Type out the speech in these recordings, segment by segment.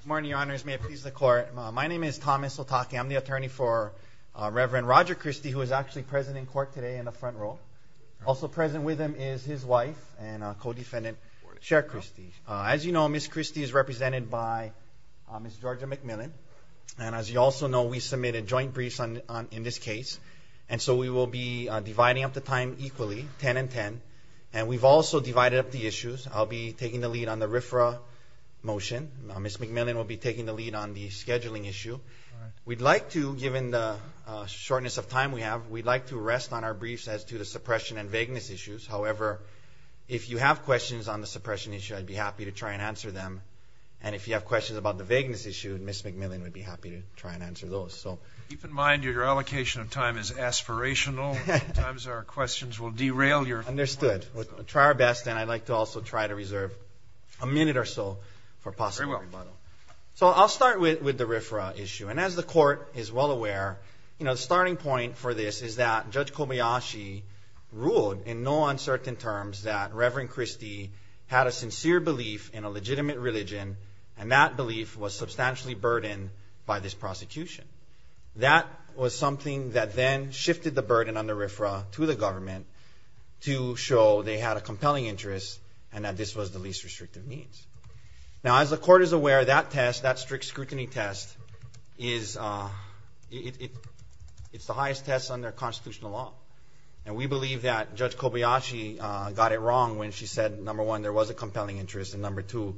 Good morning, your honors. May it please the court. My name is Thomas Otake. I'm the attorney for Reverend Roger Christie, who is actually present in court today in the front row. Also present with him is his wife and co-defendant, Sherryanne Christie. As you know, Ms. Christie is represented by Ms. Georgia McMillan. And as you also know, we submitted joint briefs in this case. And so we will be dividing up the time equally, 10 and 10. And we've also divided up the issues. I'll be taking the lead on the RFRA motion. Ms. McMillan will be taking the lead on the scheduling issue. We'd like to, given the shortness of time we have, we'd like to rest on our briefs as to the suppression and vagueness issues. However, if you have questions on the suppression issue, I'd be happy to try and answer them. And if you have questions about the vagueness issue, Ms. McMillan would be happy to try and answer those. Keep in mind your allocation of time is aspirational. Sometimes our questions will derail your... Understood. We'll try our best. And I'd like to also try to reserve a minute or so for possible rebuttal. So I'll start with the RFRA issue. And as the court is well aware, the starting point for this is that Judge Kobayashi ruled in no uncertain terms that Reverend Christie had a sincere belief in a legitimate religion, and that belief was substantially burdened by this prosecution. That was something that then shifted the burden on the RFRA to the government to show they had a compelling interest and that this was the least restrictive means. Now, as the court is aware, that test, that strict scrutiny test, it's the highest test under constitutional law. And we believe that Judge Kobayashi got it wrong when she said, number one, there was a compelling interest, and number two,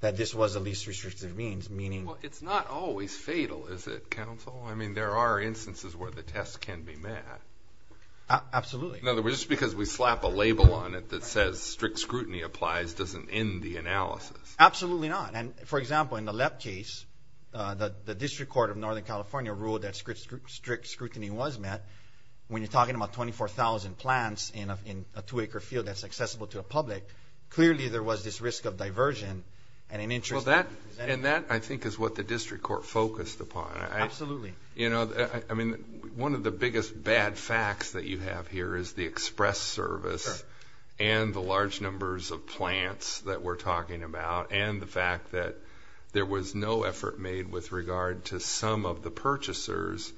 that this was the least restrictive means, meaning... Well, it's not always fatal, is it, counsel? I mean, there are instances where the test can be met. Absolutely. In other words, just because we slap a label on it that says strict scrutiny applies doesn't end the analysis. Absolutely not. And, for example, in the LEP case, the District Court of Northern California ruled that strict scrutiny was met. When you're talking about 24,000 plants in a two-acre field that's accessible to the public, clearly there was this risk of diversion and an interest... And that, I think, is what the District Court focused upon. Absolutely. You know, I mean, one of the biggest bad facts that you have here is the express service and the large numbers of plants that we're talking about and the fact that there was no effort made with regard to some of the purchasers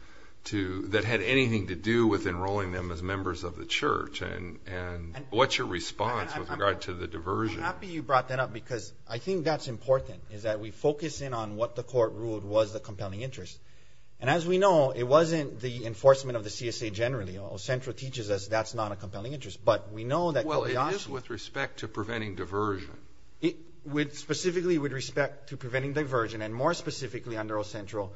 that had anything to do with enrolling them as members of the church. And what's your response with regard to the diversion? I'm happy you brought that up because I think that's important, is that we focus in on what the court ruled was the compelling interest. And as we know, it wasn't the enforcement of the CSA generally. O-Central teaches us that's not a compelling interest, but we know that... Well, it is with respect to preventing diversion. Specifically with respect to preventing diversion, and more specifically under O-Central,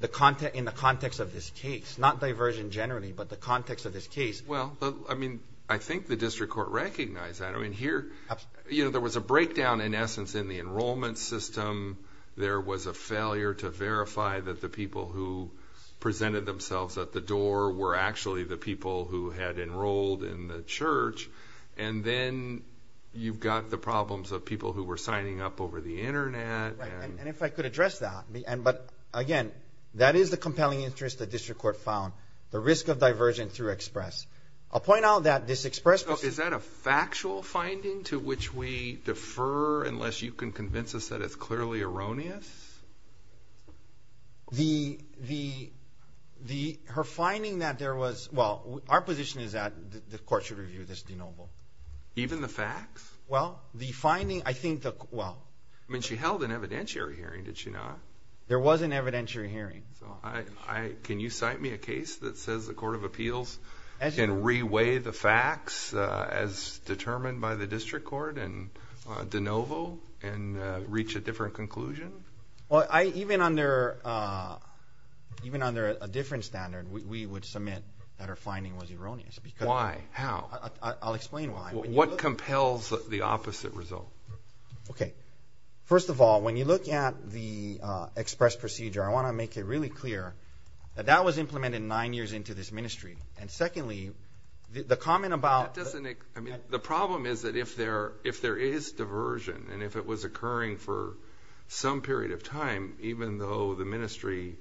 in the context of this case, not diversion generally, but the context of this case. Well, I mean, I think the District Court recognized that. I mean, here, you know, there was a breakdown in essence in the enrollment system. There was a failure to verify that the people who presented themselves at the door were actually the people who had enrolled in the church. And then you've got the problems of people who were signing up over the Internet. Right, and if I could address that. But again, that is the compelling interest the District Court found, the risk of diversion through EXPRESS. I'll point out that this EXPRESS... So is that a factual finding to which we defer, unless you can convince us that it's clearly erroneous? Her finding that there was... Well, our position is that the court should review this de novo. Even the facts? Well, the finding, I think the... I mean, she held an evidentiary hearing, did she not? There was an evidentiary hearing. Can you cite me a case that says the Court of Appeals can reweigh the facts as determined by the District Court and de novo and reach a different conclusion? Well, even under a different standard, we would submit that her finding was erroneous. Why? How? I'll explain why. What compels the opposite result? Okay. First of all, when you look at the EXPRESS procedure, I want to make it really clear that that was implemented nine years into this ministry. And secondly, the comment about... The problem is that if there is diversion and if it was occurring for some period of time, even though the ministry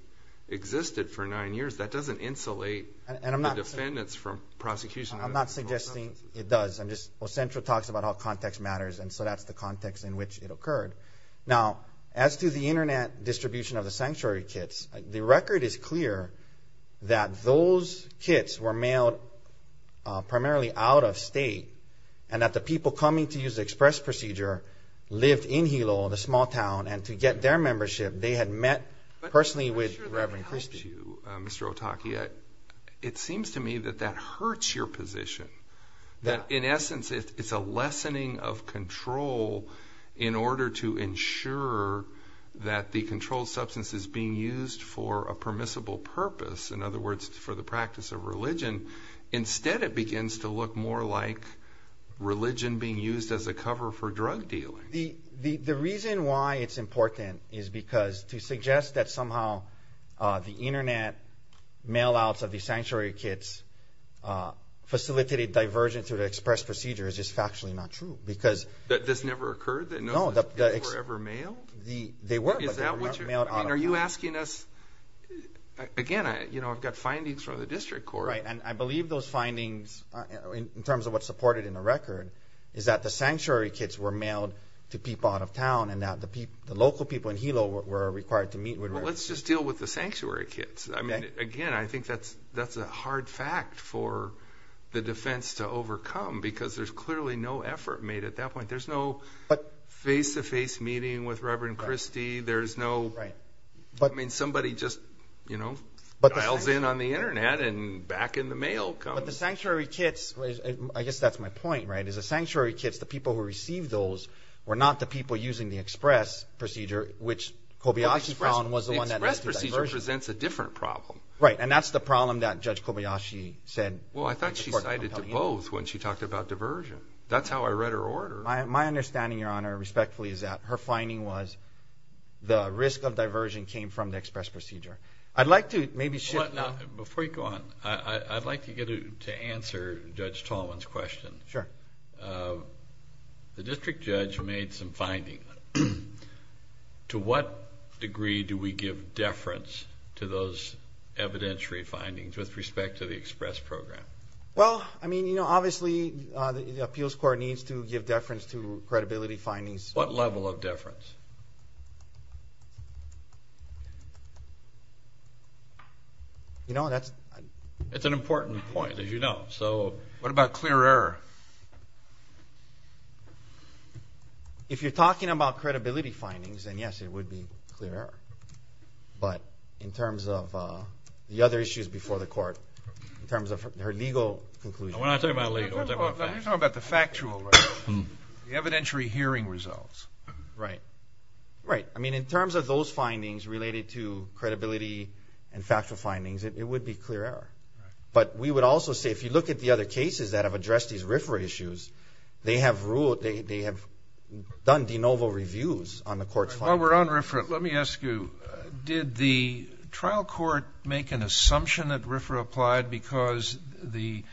existed for nine years, that doesn't insulate the defendants from prosecution. I'm not suggesting it does. I'm just... Well, Central talks about how context matters, and so that's the context in which it occurred. Now, as to the Internet distribution of the sanctuary kits, the record is clear that those kits were mailed primarily out of state and that the people coming to use the EXPRESS procedure lived in Hilo, the small town, and to get their membership, they had met personally with Reverend Christie. Mr. Otake, it seems to me that that hurts your position. In essence, it's a lessening of control in order to ensure that the controlled substance is being used for a permissible purpose, in other words, for the practice of religion. Instead, it begins to look more like religion being used as a cover for drug dealing. The reason why it's important is because to suggest that somehow the Internet mail-outs of the sanctuary kits facilitated diversion through the EXPRESS procedure is just factually not true because... That this never occurred? No. Those kits were never mailed? They were, but they were never mailed out of Hilo. And are you asking us... Again, I've got findings from the district court. Right, and I believe those findings, in terms of what's supported in the record, is that the sanctuary kits were mailed to people out of town and that the local people in Hilo were required to meet with... Well, let's just deal with the sanctuary kits. I mean, again, I think that's a hard fact for the defense to overcome because there's clearly no effort made at that point. There's no face-to-face meeting with Reverend Christie. There's no... Right. I mean, somebody just dials in on the Internet and back in the mail comes... No, but the sanctuary kits, I guess that's my point, right, is the sanctuary kits, the people who received those were not the people using the EXPRESS procedure, which Kobayashi found was the one that led to diversion. The EXPRESS procedure presents a different problem. Right, and that's the problem that Judge Kobayashi said... Well, I thought she cited to both when she talked about diversion. That's how I read her order. My understanding, Your Honor, respectfully, is that her finding was the risk of diversion came from the EXPRESS procedure. I'd like to maybe shift... Before you go on, I'd like to answer Judge Tallman's question. Sure. The district judge made some findings. To what degree do we give deference to those evidentiary findings with respect to the EXPRESS program? Well, I mean, you know, obviously the appeals court needs to give deference to credibility findings. What level of deference? You know, that's... It's an important point, as you know. So what about clear error? If you're talking about credibility findings, then yes, it would be clear error. But in terms of the other issues before the court, in terms of her legal conclusion... We're not talking about legal. We're talking about factual. You're talking about the factual, right? The evidentiary hearing results, right? Right. I mean, in terms of those findings related to credibility and factual findings, it would be clear error. Right. But we would also say, if you look at the other cases that have addressed these RFRA issues, they have done de novo reviews on the court's findings. While we're on RFRA, let me ask you, did the trial court make an assumption that RFRA applied because the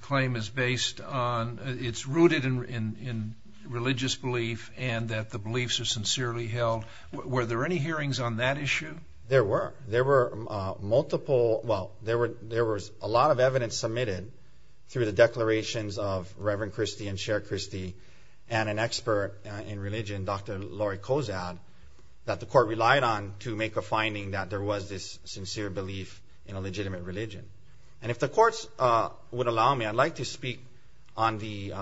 claim is based on... It's rooted in religious belief and that the beliefs are sincerely held? Were there any hearings on that issue? There were. There were multiple... Well, there was a lot of evidence submitted through the declarations of Reverend Christie and Chair Christie and an expert in religion, Dr. Lori Kozad, that the court relied on to make a finding that there was this sincere belief in a legitimate religion. And if the courts would allow me, I'd like to speak on the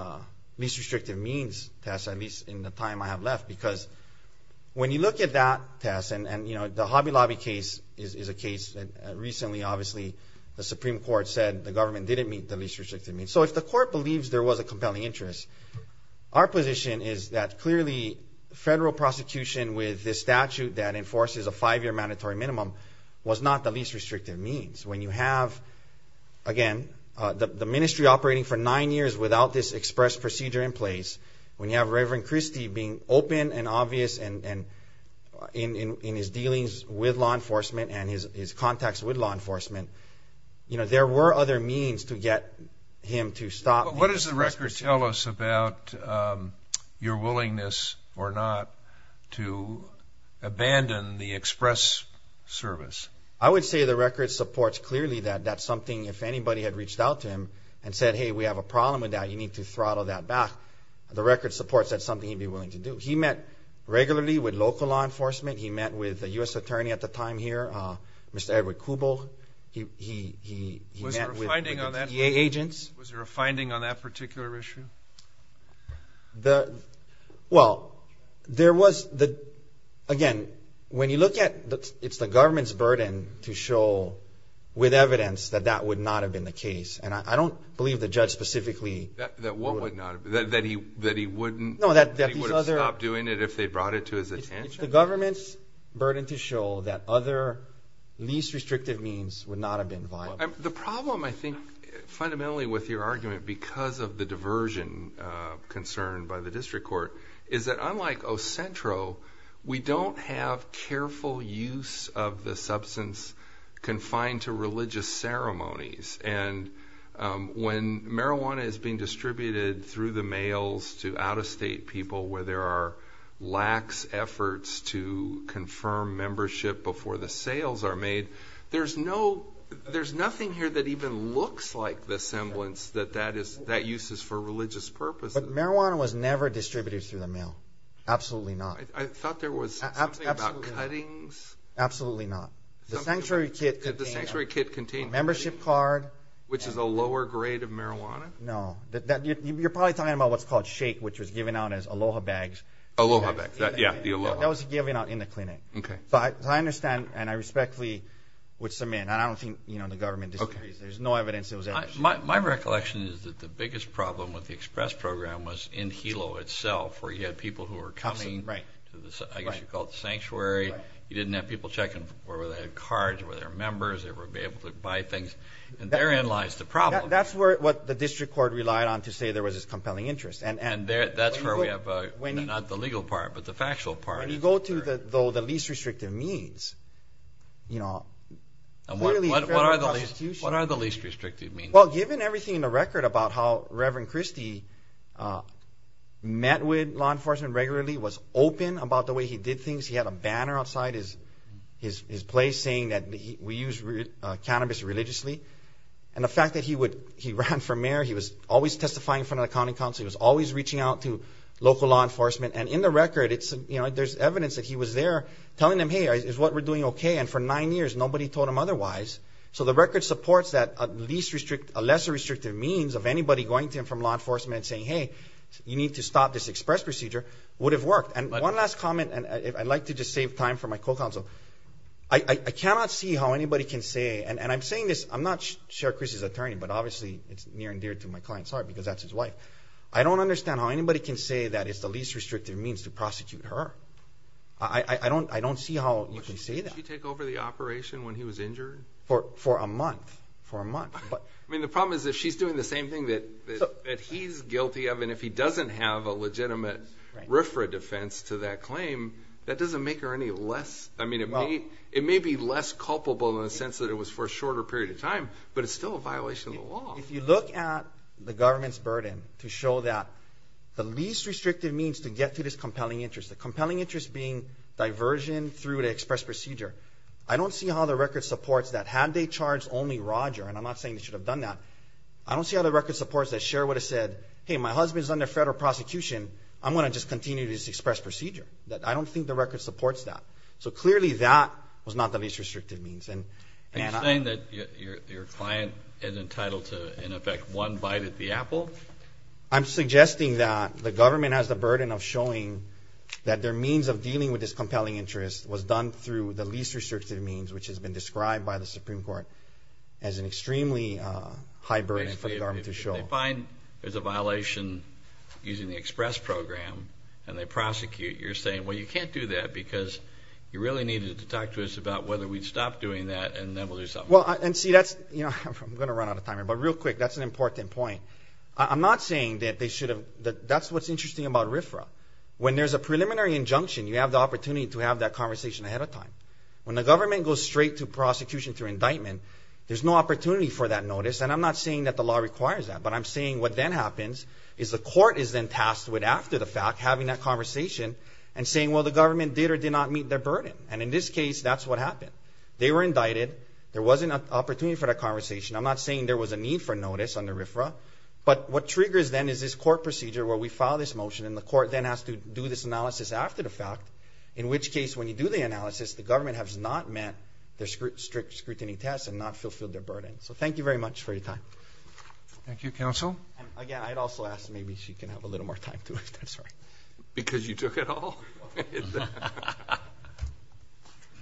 least restrictive means test, at least in the time I have left, because when you look at that test, and the Hobby Lobby case is a case that recently, obviously, the Supreme Court said the government didn't meet the least restrictive means. So if the court believes there was a compelling interest, our position is that clearly federal prosecution with this statute that enforces a five-year mandatory minimum was not the least restrictive means. When you have, again, the ministry operating for nine years without this express procedure in place, when you have Reverend Christie being open and obvious in his dealings with law enforcement and his contacts with law enforcement, there were other means to get him to stop... What does the record tell us about your willingness or not to abandon the express service? I would say the record supports clearly that that's something if anybody had reached out to him and said, hey, we have a problem with that, and we need to throttle that back, the record supports that's something he'd be willing to do. He met regularly with local law enforcement. He met with a U.S. attorney at the time here, Mr. Edward Kubuch. He met with the DA agents. Was there a finding on that particular issue? Well, there was. Again, when you look at it, it's the government's burden to show with evidence that that would not have been the case. And I don't believe the judge specifically... That what would not have... That he wouldn't... No, that these other... That he would have stopped doing it if they brought it to his attention. It's the government's burden to show that other least restrictive means would not have been viable. The problem, I think, fundamentally with your argument, because of the diversion concerned by the district court, is that unlike Ocentro, we don't have careful use of the substance confined to religious ceremonies. And when marijuana is being distributed through the mails to out-of-state people where there are lax efforts to confirm membership before the sales are made, there's nothing here that even looks like the semblance that that use is for religious purposes. But marijuana was never distributed through the mail. Absolutely not. I thought there was something about cuttings. Absolutely not. The sanctuary kit contained... Which is a lower grade of marijuana? No. You're probably talking about what's called shake, which was given out as aloha bags. Aloha bags, yeah, the aloha. That was given out in the clinic. But I understand, and I respectfully would submit, and I don't think the government disagrees. There's no evidence it was ever... My recollection is that the biggest problem with the express program was in Hilo itself, where you had people who were coming, I guess you'd call it the sanctuary. You didn't have people checking for whether they had cards, whether they were members, whether they were able to buy things. And therein lies the problem. That's what the district court relied on to say there was this compelling interest. And that's where we have, not the legal part, but the factual part. When you go to the least restrictive means, you know, clearly the federal constitution... What are the least restrictive means? Well, given everything in the record about how Reverend Christie met with law enforcement regularly, was open about the way he did things, he had a banner outside his place saying that we use cannabis religiously. And the fact that he ran for mayor, he was always testifying in front of the county council, he was always reaching out to local law enforcement. And in the record, you know, there's evidence that he was there telling them, hey, is what we're doing okay? And for nine years, nobody told him otherwise. So the record supports that a lesser restrictive means of anybody going to him from law enforcement and saying, hey, you need to stop this express procedure would have worked. And one last comment, and I'd like to just save time for my co-counsel. I cannot see how anybody can say, and I'm saying this, I'm not Sheriff Chris's attorney, but obviously it's near and dear to my client's heart because that's his wife. I don't understand how anybody can say that it's the least restrictive means to prosecute her. I don't see how you can say that. Did she take over the operation when he was injured? For a month, for a month. I mean, the problem is if she's doing the same thing that he's guilty of, and if he doesn't have a legitimate RFRA defense to that claim, that doesn't make her any less. I mean, it may be less culpable in the sense that it was for a shorter period of time, but it's still a violation of the law. If you look at the government's burden to show that the least restrictive means to get to this compelling interest, the compelling interest being diversion through the express procedure, I don't see how the record supports that had they charged only Roger, and I'm not saying they should have done that, I don't see how the record supports that Sheriff would have said, hey, my husband's under federal prosecution. I'm going to just continue this express procedure. I don't think the record supports that. So clearly that was not the least restrictive means. Are you saying that your client is entitled to in effect one bite at the apple? I'm suggesting that the government has the burden of showing that their means of dealing with this compelling interest was done through the least restrictive means, which has been described by the Supreme Court as an extremely high burden for the government to show. If they find there's a violation using the express program and they prosecute, you're saying, well, you can't do that because you really needed to talk to us about whether we'd stop doing that and then we'll do something else. Well, and see, that's, you know, I'm going to run out of time here, but real quick, that's an important point. I'm not saying that they should have, that's what's interesting about RFRA. When there's a preliminary injunction, you have the opportunity to have that conversation ahead of time. When the government goes straight to prosecution through indictment, there's no opportunity for that notice, and I'm not saying that the law requires that, but I'm saying what then happens is the court is then tasked with, after the fact, having that conversation and saying, well, the government did or did not meet their burden, and in this case, that's what happened. They were indicted. There wasn't an opportunity for that conversation. I'm not saying there was a need for notice under RFRA, but what triggers then is this court procedure where we file this motion and the court then has to do this analysis after the fact, in which case, when you do the analysis, the government has not met their strict scrutiny test and not fulfilled their burden. So thank you very much for your time. Thank you, counsel. Again, I'd also ask maybe she can have a little more time to it. I'm sorry. Because you took it all?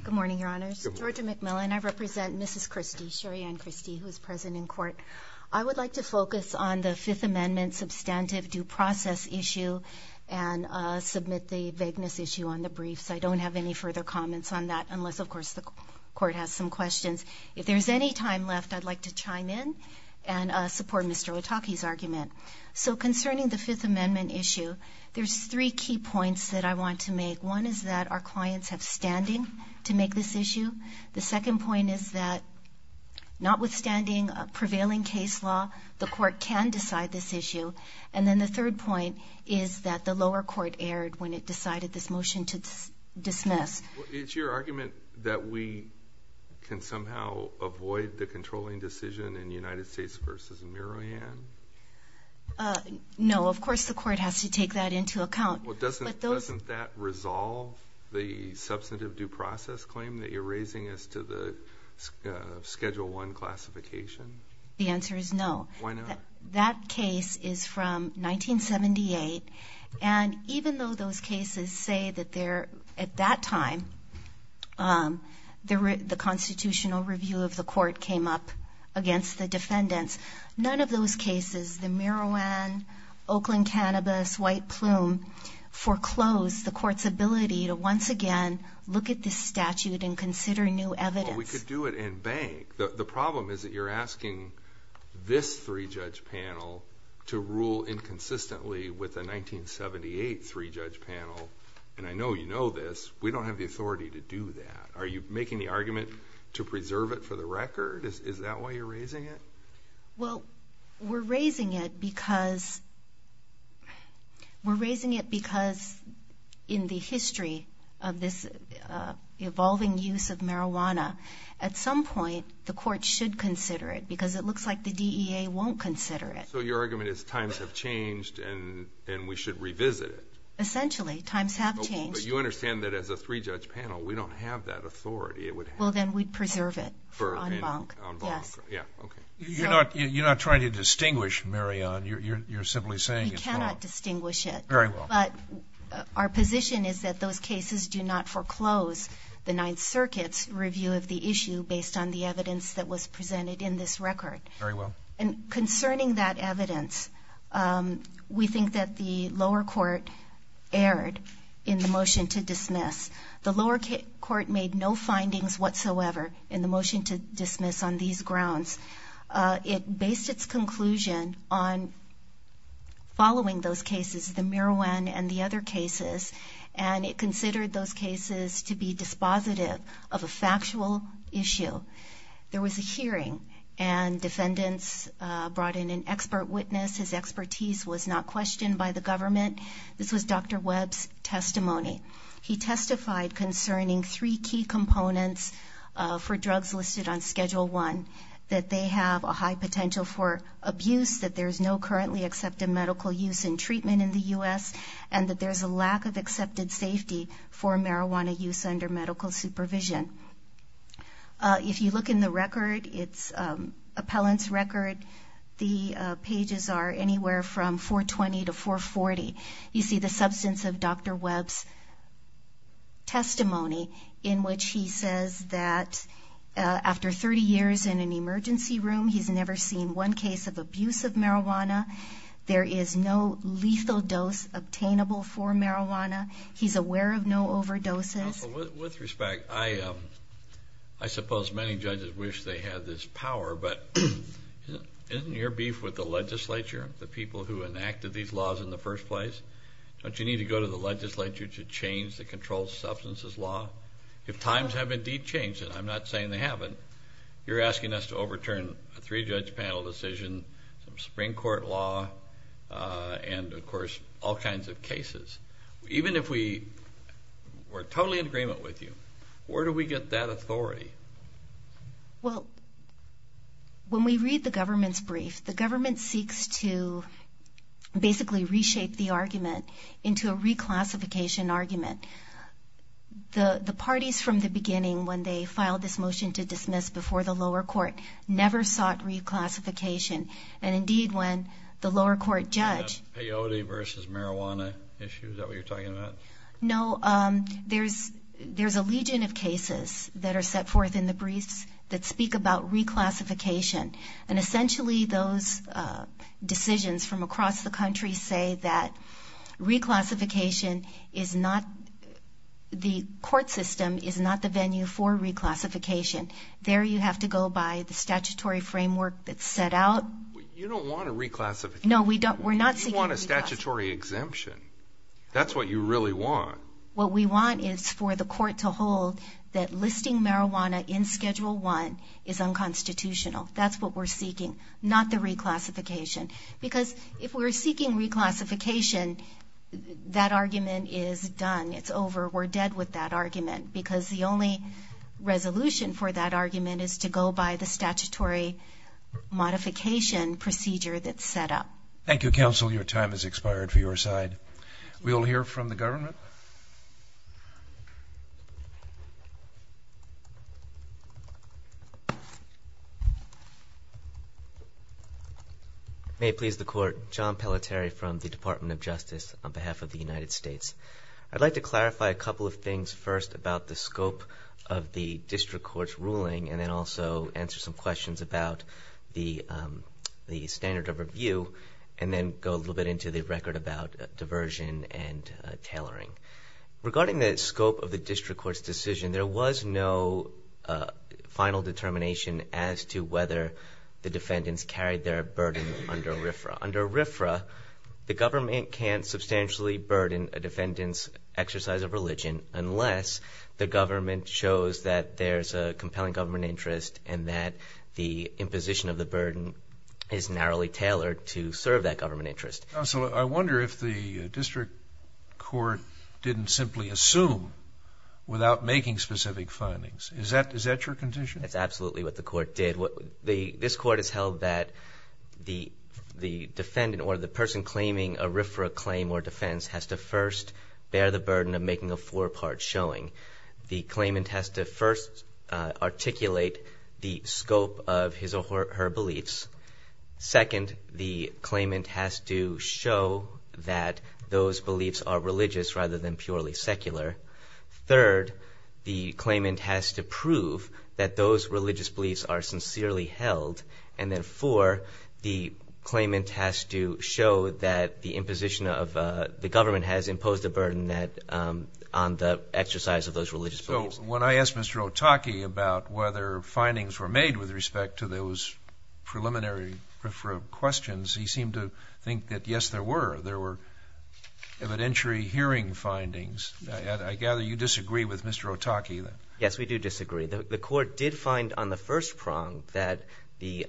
Good morning, Your Honors. Georgia McMillan. I represent Mrs. Christie, Cherianne Christie, who is present in court. I would like to focus on the Fifth Amendment substantive due process issue and submit the vagueness issue on the briefs. I don't have any further comments on that unless, of course, the court has some questions. If there's any time left, I'd like to chime in and support Mr. Otakey's argument. So concerning the Fifth Amendment issue, there's three key points that I want to make. One is that our clients have standing to make this issue. The second point is that notwithstanding a prevailing case law, the court can decide this issue. And then the third point is that the lower court erred when it decided this motion to dismiss. It's your argument that we can somehow avoid the controlling decision in United States v. Mirohan? No, of course the court has to take that into account. Well, doesn't that resolve the substantive due process claim that you're raising as to the Schedule I classification? The answer is no. Why not? That case is from 1978, and even though those cases say that at that time the constitutional review of the court came up against the defendants, none of those cases, the Mirohan, Oakland Cannabis, White Plume, foreclosed the court's ability to once again look at this statute and consider new evidence. Well, we could do it in bank. The problem is that you're asking this three-judge panel to rule inconsistently with a 1978 three-judge panel, and I know you know this. We don't have the authority to do that. Are you making the argument to preserve it for the record? Is that why you're raising it? Well, we're raising it because in the history of this evolving use of marijuana, at some point the court should consider it because it looks like the DEA won't consider it. So your argument is times have changed and we should revisit it? Essentially, times have changed. But you understand that as a three-judge panel, we don't have that authority. Well, then we'd preserve it on bank. Yes. You're not trying to distinguish, Mirohan. You're simply saying it's wrong. We cannot distinguish it. Very well. But our position is that those cases do not foreclose the Ninth Circuit's review of the issue based on the evidence that was presented in this record. Very well. And concerning that evidence, we think that the lower court erred in the motion to dismiss. The lower court made no findings whatsoever in the motion to dismiss on these grounds. It based its conclusion on following those cases, the marijuana and the other cases, and it considered those cases to be dispositive of a factual issue. There was a hearing and defendants brought in an expert witness. His expertise was not questioned by the government. This was Dr. Webb's testimony. He testified concerning three key components for drugs listed on Schedule I, that they have a high potential for abuse, that there's no currently accepted medical use and treatment in the U.S., and that there's a lack of accepted safety for marijuana use under medical supervision. If you look in the record, it's appellant's record, the pages are anywhere from 420 to 440. You see the substance of Dr. Webb's testimony in which he says that after 30 years in an emergency room, he's never seen one case of abuse of marijuana. There is no lethal dose obtainable for marijuana. He's aware of no overdoses. With respect, I suppose many judges wish they had this power, but isn't your beef with the legislature, the people who enacted these laws in the first place? Don't you need to go to the legislature to change the controlled substances law? If times have indeed changed, and I'm not saying they haven't, you're asking us to overturn a three-judge panel decision, some Supreme Court law, and, of course, all kinds of cases. Even if we're totally in agreement with you, where do we get that authority? Well, when we read the government's brief, the government seeks to basically reshape the argument into a reclassification argument. The parties from the beginning, when they filed this motion to dismiss before the lower court, never sought reclassification. And, indeed, when the lower court judge- And that peyote versus marijuana issue, is that what you're talking about? No, there's a legion of cases that are set forth in the briefs that speak about reclassification. And, essentially, those decisions from across the country say that reclassification is not, the court system is not the venue for reclassification. There you have to go by the statutory framework that's set out. You don't want a reclassification. No, we're not seeking reclassification. You want a statutory exemption. That's what you really want. What we want is for the court to hold that listing marijuana in Schedule I is unconstitutional. That's what we're seeking, not the reclassification. Because if we're seeking reclassification, that argument is done. It's over. We're dead with that argument. Because the only resolution for that argument is to go by the statutory modification procedure that's set up. Thank you, Counsel. Your time has expired for your side. We'll hear from the government. May it please the Court. John Pelletieri from the Department of Justice on behalf of the United States. I'd like to clarify a couple of things first about the scope of the district court's ruling and then also answer some questions about the standard of review and then go a little bit into the record about diversion and tailoring. Regarding the scope of the district court's decision, there was no final determination as to whether the defendants carried their burden under RFRA. Under RFRA, the government can't substantially burden a defendant's exercise of religion unless the government shows that there's a compelling government interest and that the imposition of the burden is narrowly tailored to serve that government interest. Counsel, I wonder if the district court didn't simply assume without making specific findings. Is that your condition? That's absolutely what the court did. This court has held that the defendant or the person claiming a RFRA claim or defense has to first bear the burden of making a four-part showing. The claimant has to first articulate the scope of his or her beliefs. Second, the claimant has to show that those beliefs are religious rather than purely secular. Third, the claimant has to prove that those religious beliefs are sincerely held. And then, four, the claimant has to show that the imposition of the government has imposed a burden on the exercise of those religious beliefs. So when I asked Mr. Otake about whether findings were made with respect to those preliminary questions, he seemed to think that, yes, there were. evidentiary hearing findings. I gather you disagree with Mr. Otake. Yes, we do disagree. The court did find on the first prong that the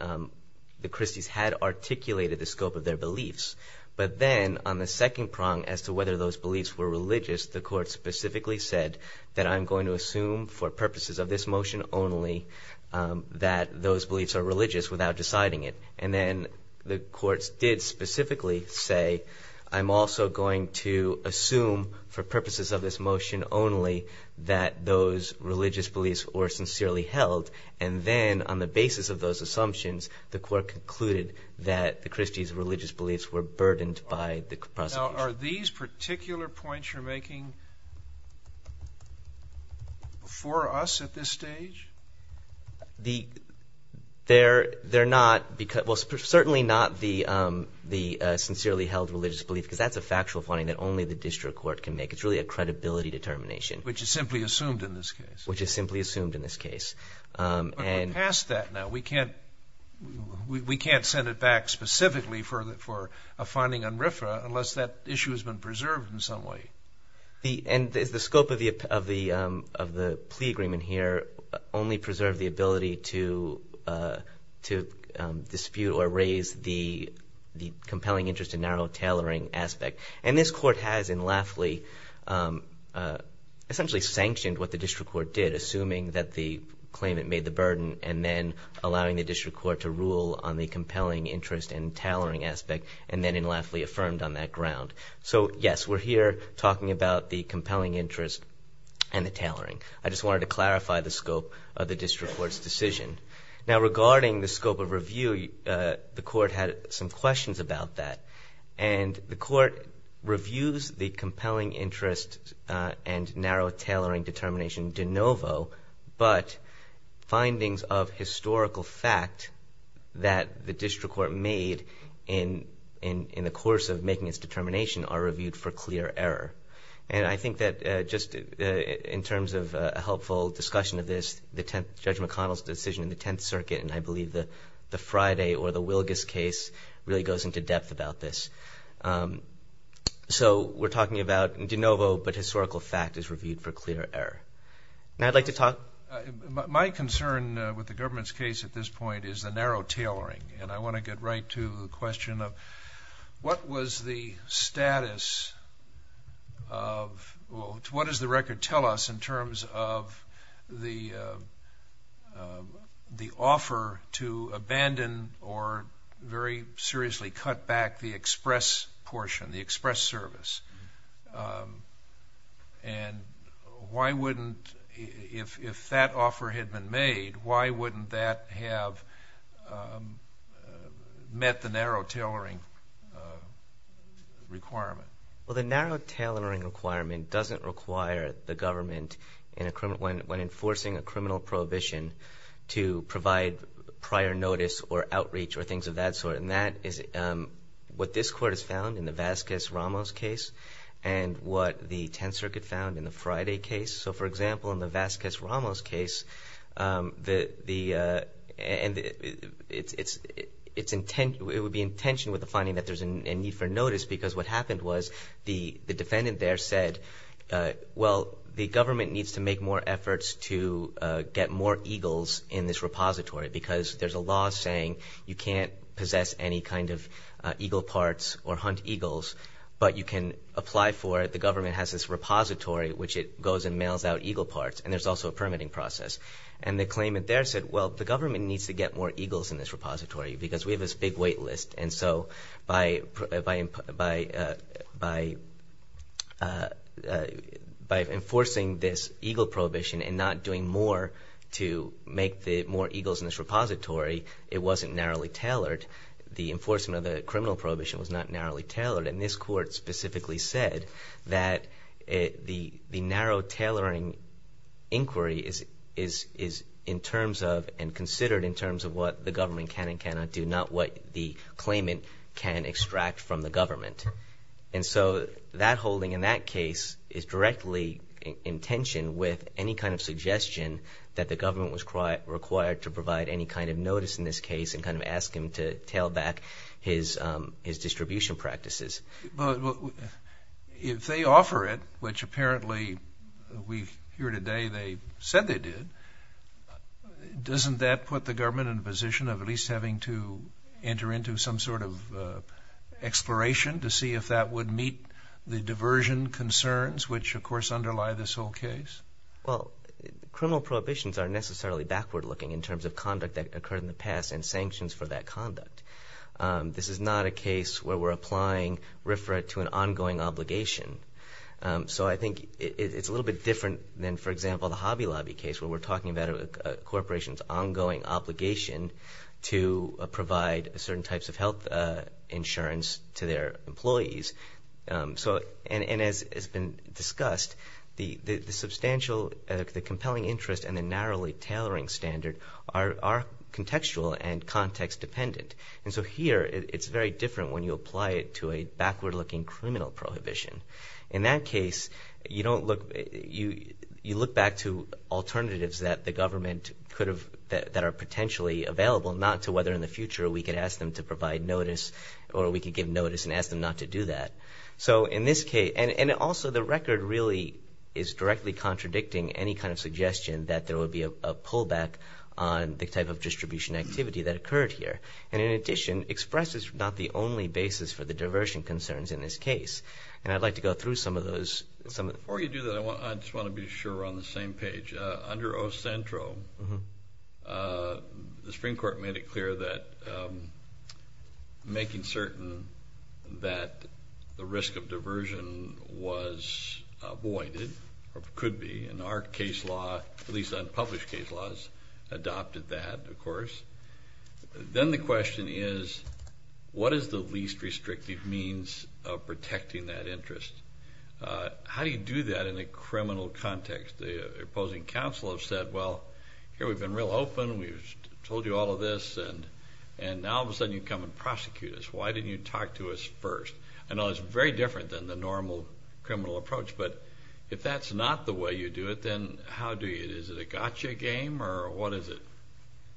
Christies had articulated the scope of their beliefs. But then on the second prong as to whether those beliefs were religious, the court specifically said that I'm going to assume for purposes of this motion only that those beliefs are religious without deciding it. And then the courts did specifically say, I'm also going to assume for purposes of this motion only that those religious beliefs were sincerely held. And then on the basis of those assumptions, the court concluded that the Christies' religious beliefs were burdened by the prosecution. Now, are these particular points you're making for us at this stage? They're not. Well, certainly not the sincerely held religious belief, because that's a factual finding that only the district court can make. It's really a credibility determination. Which is simply assumed in this case. Which is simply assumed in this case. But we're past that now. We can't send it back specifically for a finding on RFRA unless that issue has been preserved in some way. And does the scope of the plea agreement here only preserve the ability to dispute or raise the compelling interest and narrow tailoring aspect? And this court has in Lafley essentially sanctioned what the district court did, assuming that the claimant made the burden, and then allowing the district court to rule on the compelling interest and tailoring aspect, and then in Lafley affirmed on that ground. So, yes, we're here talking about the compelling interest and the tailoring. I just wanted to clarify the scope of the district court's decision. Now, regarding the scope of review, the court had some questions about that. And the court reviews the compelling interest and narrow tailoring determination de novo, but findings of historical fact that the district court made in the course of making its determination are reviewed for clear error. And I think that just in terms of a helpful discussion of this, Judge McConnell's decision in the Tenth Circuit, and I believe the Friday or the Wilgus case really goes into depth about this. So we're talking about de novo, but historical fact is reviewed for clear error. And I'd like to talk. My concern with the government's case at this point is the narrow tailoring, and I want to get right to the question of what was the status of, what does the record tell us in terms of the offer to abandon or very seriously cut back the express portion, the express service? And why wouldn't, if that offer had been made, why wouldn't that have met the narrow tailoring requirement? Well, the narrow tailoring requirement doesn't require the government, when enforcing a criminal prohibition, to provide prior notice or outreach or things of that sort. And that is what this Court has found in the Vasquez-Ramos case and what the Tenth Circuit found in the Friday case. So, for example, in the Vasquez-Ramos case, it would be in tension with the finding that there's a need for notice because what happened was the defendant there said, well, the government needs to make more efforts to get more eagles in this repository because there's a law saying you can't possess any kind of eagle parts or hunt eagles, but you can apply for it. The government has this repository which it goes and mails out eagle parts, and there's also a permitting process. And the claimant there said, well, the government needs to get more eagles in this repository because we have this big wait list. And so by enforcing this eagle prohibition and not doing more to make more eagles in this repository, it wasn't narrowly tailored. The enforcement of the criminal prohibition was not narrowly tailored. And this Court specifically said that the narrow tailoring inquiry is in terms of and considered in terms of what the government can and cannot do, not what the claimant can extract from the government. And so that holding in that case is directly in tension with any kind of suggestion that the government was required to provide any kind of notice in this case and kind of ask him to tail back his distribution practices. If they offer it, which apparently we hear today they said they did, doesn't that put the government in a position of at least having to see if that would meet the diversion concerns, which, of course, underlie this whole case? Well, criminal prohibitions are necessarily backward-looking in terms of conduct that occurred in the past and sanctions for that conduct. This is not a case where we're applying RFRA to an ongoing obligation. So I think it's a little bit different than, for example, the Hobby Lobby case, where we're talking about a corporation's ongoing obligation to provide certain types of health insurance to their employees. And as has been discussed, the substantial, the compelling interest and the narrowly tailoring standard are contextual and context-dependent. And so here it's very different when you apply it to a backward-looking criminal prohibition. In that case, you look back to alternatives that the government could have, that are potentially available, not to whether in the future we could ask them to provide notice or we could give notice and ask them not to do that. So in this case, and also the record really is directly contradicting any kind of suggestion that there would be a pullback on the type of distribution activity that occurred here, and in addition expresses not the only basis for the diversion concerns in this case. And I'd like to go through some of those. Before you do that, I just want to be sure we're on the same page. Under O-Centro, the Supreme Court made it clear that making certain that the risk of diversion was avoided or could be, and our case law, at least unpublished case laws, adopted that, of course. Then the question is, what is the least restrictive means of protecting that interest? How do you do that in a criminal context? The opposing counsel have said, well, here we've been real open. We've told you all of this, and now all of a sudden you come and prosecute us. Why didn't you talk to us first? I know it's very different than the normal criminal approach, but if that's not the way you do it, then how do you do it? Is it a gotcha game or what is it?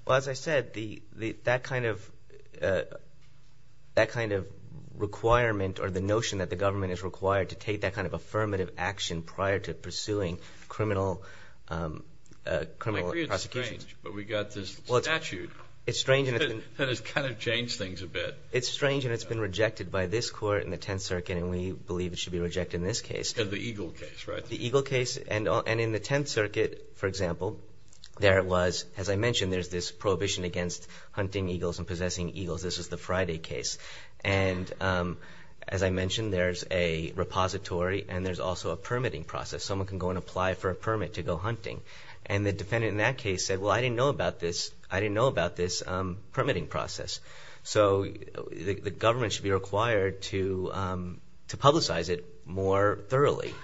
Well, as I said, that kind of requirement or the notion that the government is required to take that kind of affirmative action prior to pursuing criminal prosecutions. I agree it's strange, but we've got this statute that has kind of changed things a bit. It's strange, and it's been rejected by this Court in the Tenth Circuit, and we believe it should be rejected in this case. The Eagle case, right? The Eagle case, and in the Tenth Circuit, for example, there was, as I mentioned, there's this prohibition against hunting eagles and possessing eagles. This is the Friday case. And as I mentioned, there's a repository and there's also a permitting process. Someone can go and apply for a permit to go hunting. And the defendant in that case said, well, I didn't know about this permitting process. So the government should be required to publicize it more thoroughly.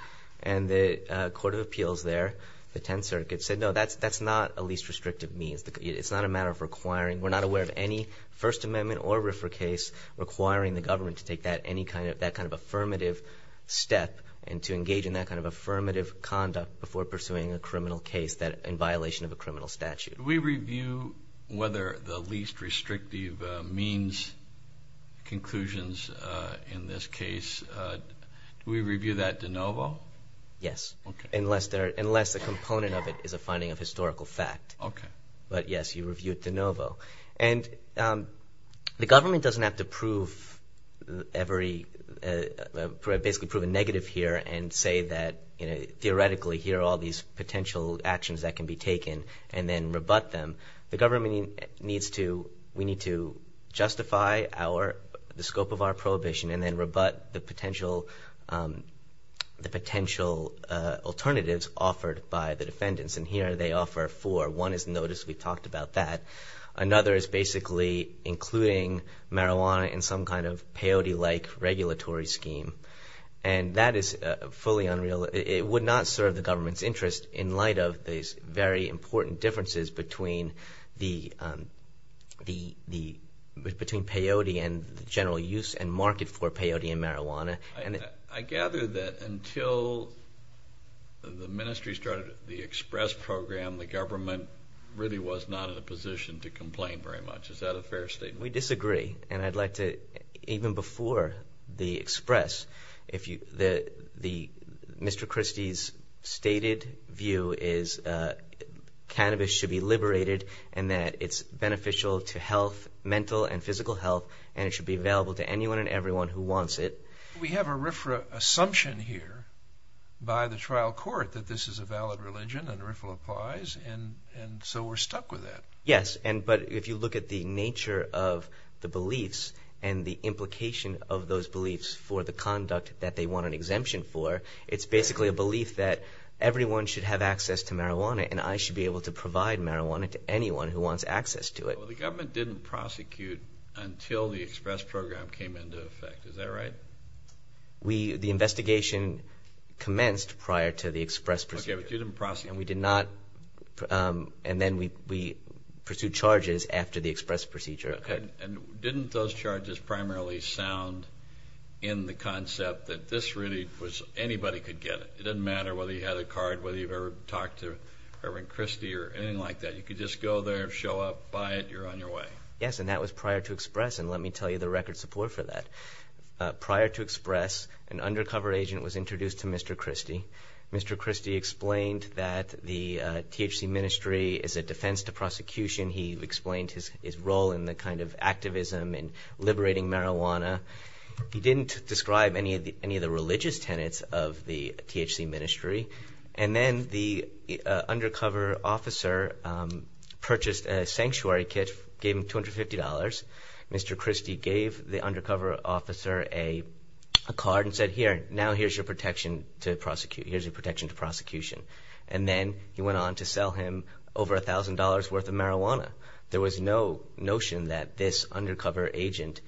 And the Court of Appeals there, the Tenth Circuit, said, no, that's not a least restrictive means. It's not a matter of requiring. We're not aware of any First Amendment or RFRA case requiring the government to take that kind of affirmative step and to engage in that kind of affirmative conduct before pursuing a criminal case in violation of a criminal statute. Did we review whether the least restrictive means conclusions in this case, do we review that de novo? Yes, unless a component of it is a finding of historical fact. But, yes, you review it de novo. And the government doesn't have to prove every, basically prove a negative here and say that, you know, the government needs to, we need to justify our, the scope of our prohibition and then rebut the potential alternatives offered by the defendants. And here they offer four. One is notice, we talked about that. Another is basically including marijuana in some kind of peyote-like regulatory scheme. And that is fully unreal. It would not serve the government's interest in light of these very important differences between peyote and the general use and market for peyote and marijuana. I gather that until the ministry started the EXPRESS program, the government really was not in a position to complain very much. Is that a fair statement? We disagree. And I'd like to, even before the EXPRESS, Mr. Christie's stated view is cannabis should be liberated and that it's beneficial to health, mental and physical health, and it should be available to anyone and everyone who wants it. We have a RFRA assumption here by the trial court that this is a valid religion and RFRA applies, and so we're stuck with that. Yes, but if you look at the nature of the beliefs and the implication of those beliefs for the conduct that they want an exemption for, it's basically a belief that everyone should have access to marijuana and I should be able to provide marijuana to anyone who wants access to it. Well, the government didn't prosecute until the EXPRESS program came into effect. Is that right? The investigation commenced prior to the EXPRESS procedure. Okay, but you didn't prosecute. And we did not, and then we pursued charges after the EXPRESS procedure. Okay, and didn't those charges primarily sound in the concept that this really was anybody could get it? It doesn't matter whether you had a card, whether you've ever talked to Irving Christie or anything like that. You could just go there, show up, buy it, you're on your way. Yes, and that was prior to EXPRESS, and let me tell you the record support for that. Prior to EXPRESS, an undercover agent was introduced to Mr. Christie. Mr. Christie explained that the THC ministry is a defense to prosecution. He explained his role in the kind of activism and liberating marijuana. He didn't describe any of the religious tenets of the THC ministry, and then the undercover officer purchased a sanctuary kit, gave him $250. Mr. Christie gave the undercover officer a card and said, here, now here's your protection to prosecution. And then he went on to sell him over $1,000 worth of marijuana. There was no notion that this undercover agent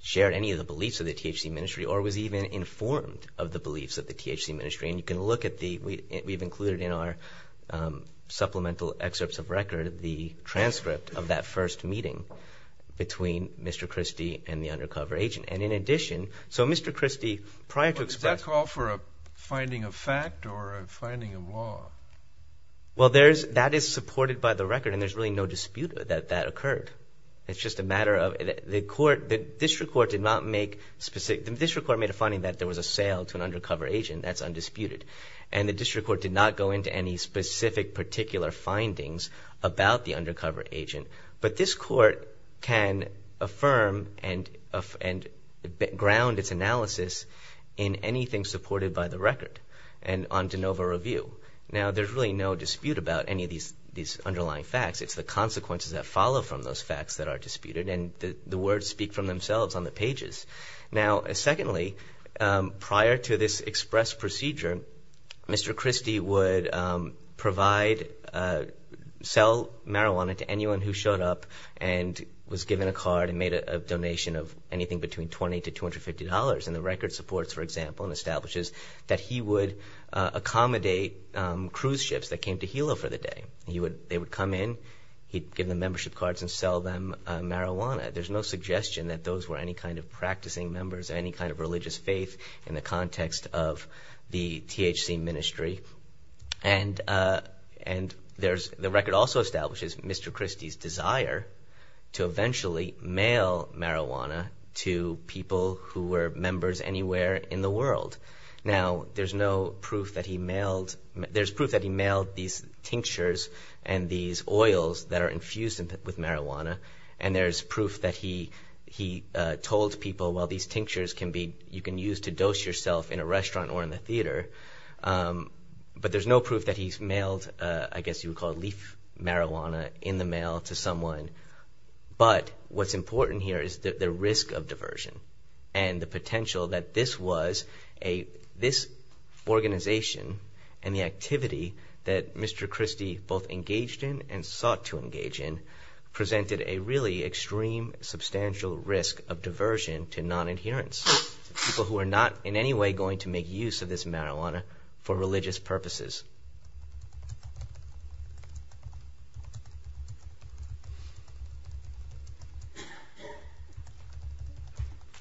shared any of the beliefs of the THC ministry or was even informed of the beliefs of the THC ministry. And you can look at the, we've included in our supplemental excerpts of record, the transcript of that first meeting between Mr. Christie and the undercover agent. And in addition, so Mr. Christie prior to EXPRESS. Well, does that call for a finding of fact or a finding of law? Well, that is supported by the record, and there's really no dispute that that occurred. It's just a matter of the court, the district court did not make specific, the district court made a finding that there was a sale to an undercover agent. That's undisputed. And the district court did not go into any specific particular findings about the undercover agent. But this court can affirm and ground its analysis in anything supported by the record and on de novo review. Now, there's really no dispute about any of these underlying facts. It's the consequences that follow from those facts that are disputed, Now, secondly, prior to this EXPRESS procedure, Mr. Christie would provide, sell marijuana to anyone who showed up and was given a card and made a donation of anything between $20 to $250. And the record supports, for example, and establishes that he would accommodate cruise ships that came to Hilo for the day. They would come in, he'd give them membership cards and sell them marijuana. There's no suggestion that those were any kind of practicing members, any kind of religious faith in the context of the THC ministry. And the record also establishes Mr. Christie's desire to eventually mail marijuana to people who were members anywhere in the world. Now, there's no proof that he mailed, there's proof that he mailed these tinctures and these oils that are infused with marijuana. And there's proof that he told people, well, these tinctures you can use to dose yourself in a restaurant or in the theater. But there's no proof that he's mailed, I guess you would call it, leaf marijuana in the mail to someone. But what's important here is the risk of diversion and the potential that this was a, this organization and the activity that Mr. Christie both engaged in and sought to engage in presented a really extreme substantial risk of diversion to non-adherents, people who are not in any way going to make use of this marijuana for religious purposes.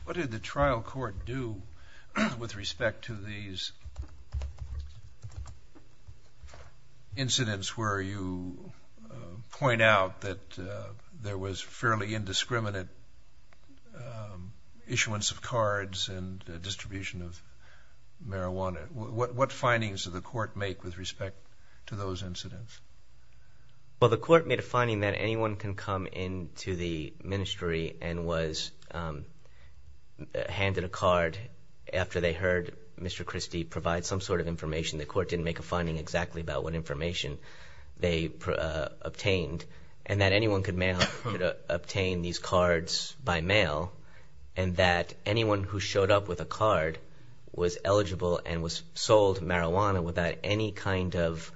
What did the trial court do with respect to these incidents where you point out that there was fairly indiscriminate issuance of cards and distribution of marijuana? What findings did the court make with respect to those incidents? Well, the court made a finding that anyone can come into the ministry and was handed a card after they heard Mr. Christie provide some sort of information. The court didn't make a finding exactly about what information they obtained and that anyone could obtain these cards by mail and that anyone who showed up with a card was eligible and was sold marijuana without any kind of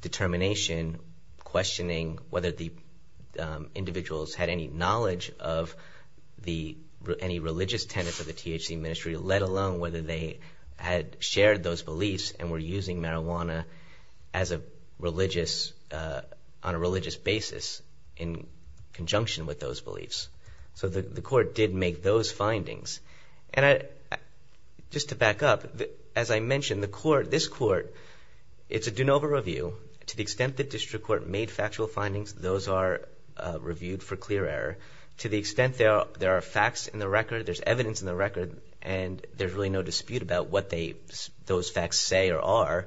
determination, questioning whether the individuals had any knowledge of any religious tenets of the THC ministry, let alone whether they had shared those beliefs and were using marijuana on a religious basis in conjunction with those beliefs. So the court did make those findings. And just to back up, as I mentioned, this court, it's a de novo review. To the extent the district court made factual findings, those are reviewed for clear error. To the extent there are facts in the record, there's evidence in the record, and there's really no dispute about what those facts say or are,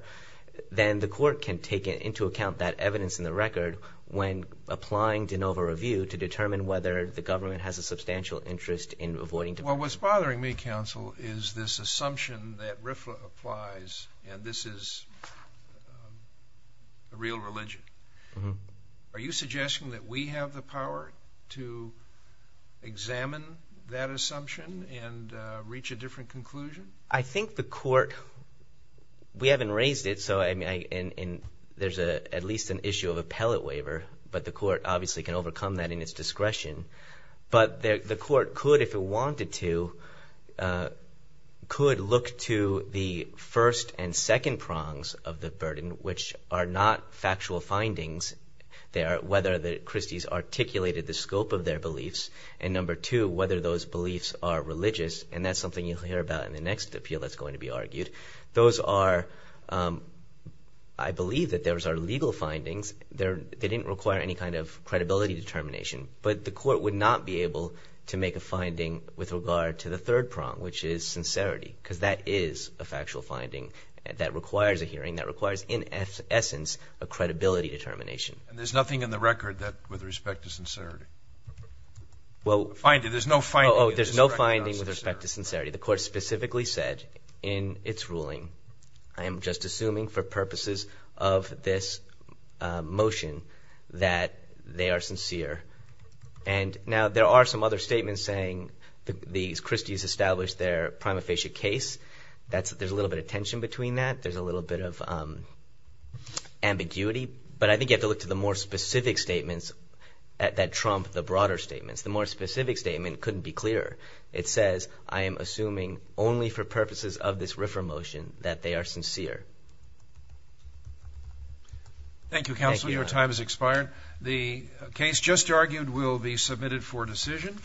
then the court can take into account that evidence in the record when applying de novo review to determine whether the government has a substantial interest in avoiding debate. Well, what's bothering me, counsel, is this assumption that RFLA applies and this is the real religion. Are you suggesting that we have the power to examine that assumption and reach a different conclusion? I think the court, we haven't raised it, and there's at least an issue of appellate waiver, but the court obviously can overcome that in its discretion. But the court could, if it wanted to, could look to the first and second prongs of the burden, which are not factual findings, whether the Christies articulated the scope of their beliefs, and number two, whether those beliefs are religious, and that's something you'll hear about in the next appeal that's going to be argued. Those are, I believe that those are legal findings. They didn't require any kind of credibility determination, but the court would not be able to make a finding with regard to the third prong, which is sincerity, because that is a factual finding that requires a hearing, that requires, in essence, a credibility determination. And there's nothing in the record with respect to sincerity? Well, there's no finding with respect to sincerity. The court specifically said in its ruling, I am just assuming for purposes of this motion that they are sincere. And now there are some other statements saying the Christies established their prima facie case. There's a little bit of tension between that. There's a little bit of ambiguity, but I think you have to look to the more specific statements that trump the broader statements. The more specific statement couldn't be clearer. It says, I am assuming only for purposes of this refer motion that they are sincere. Thank you, Counselor. Your time has expired. The case just argued will be submitted for decision,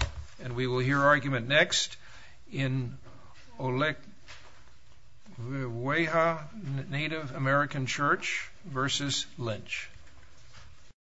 and we will hear argument next in Oluweaha Native American Church v. Lynch.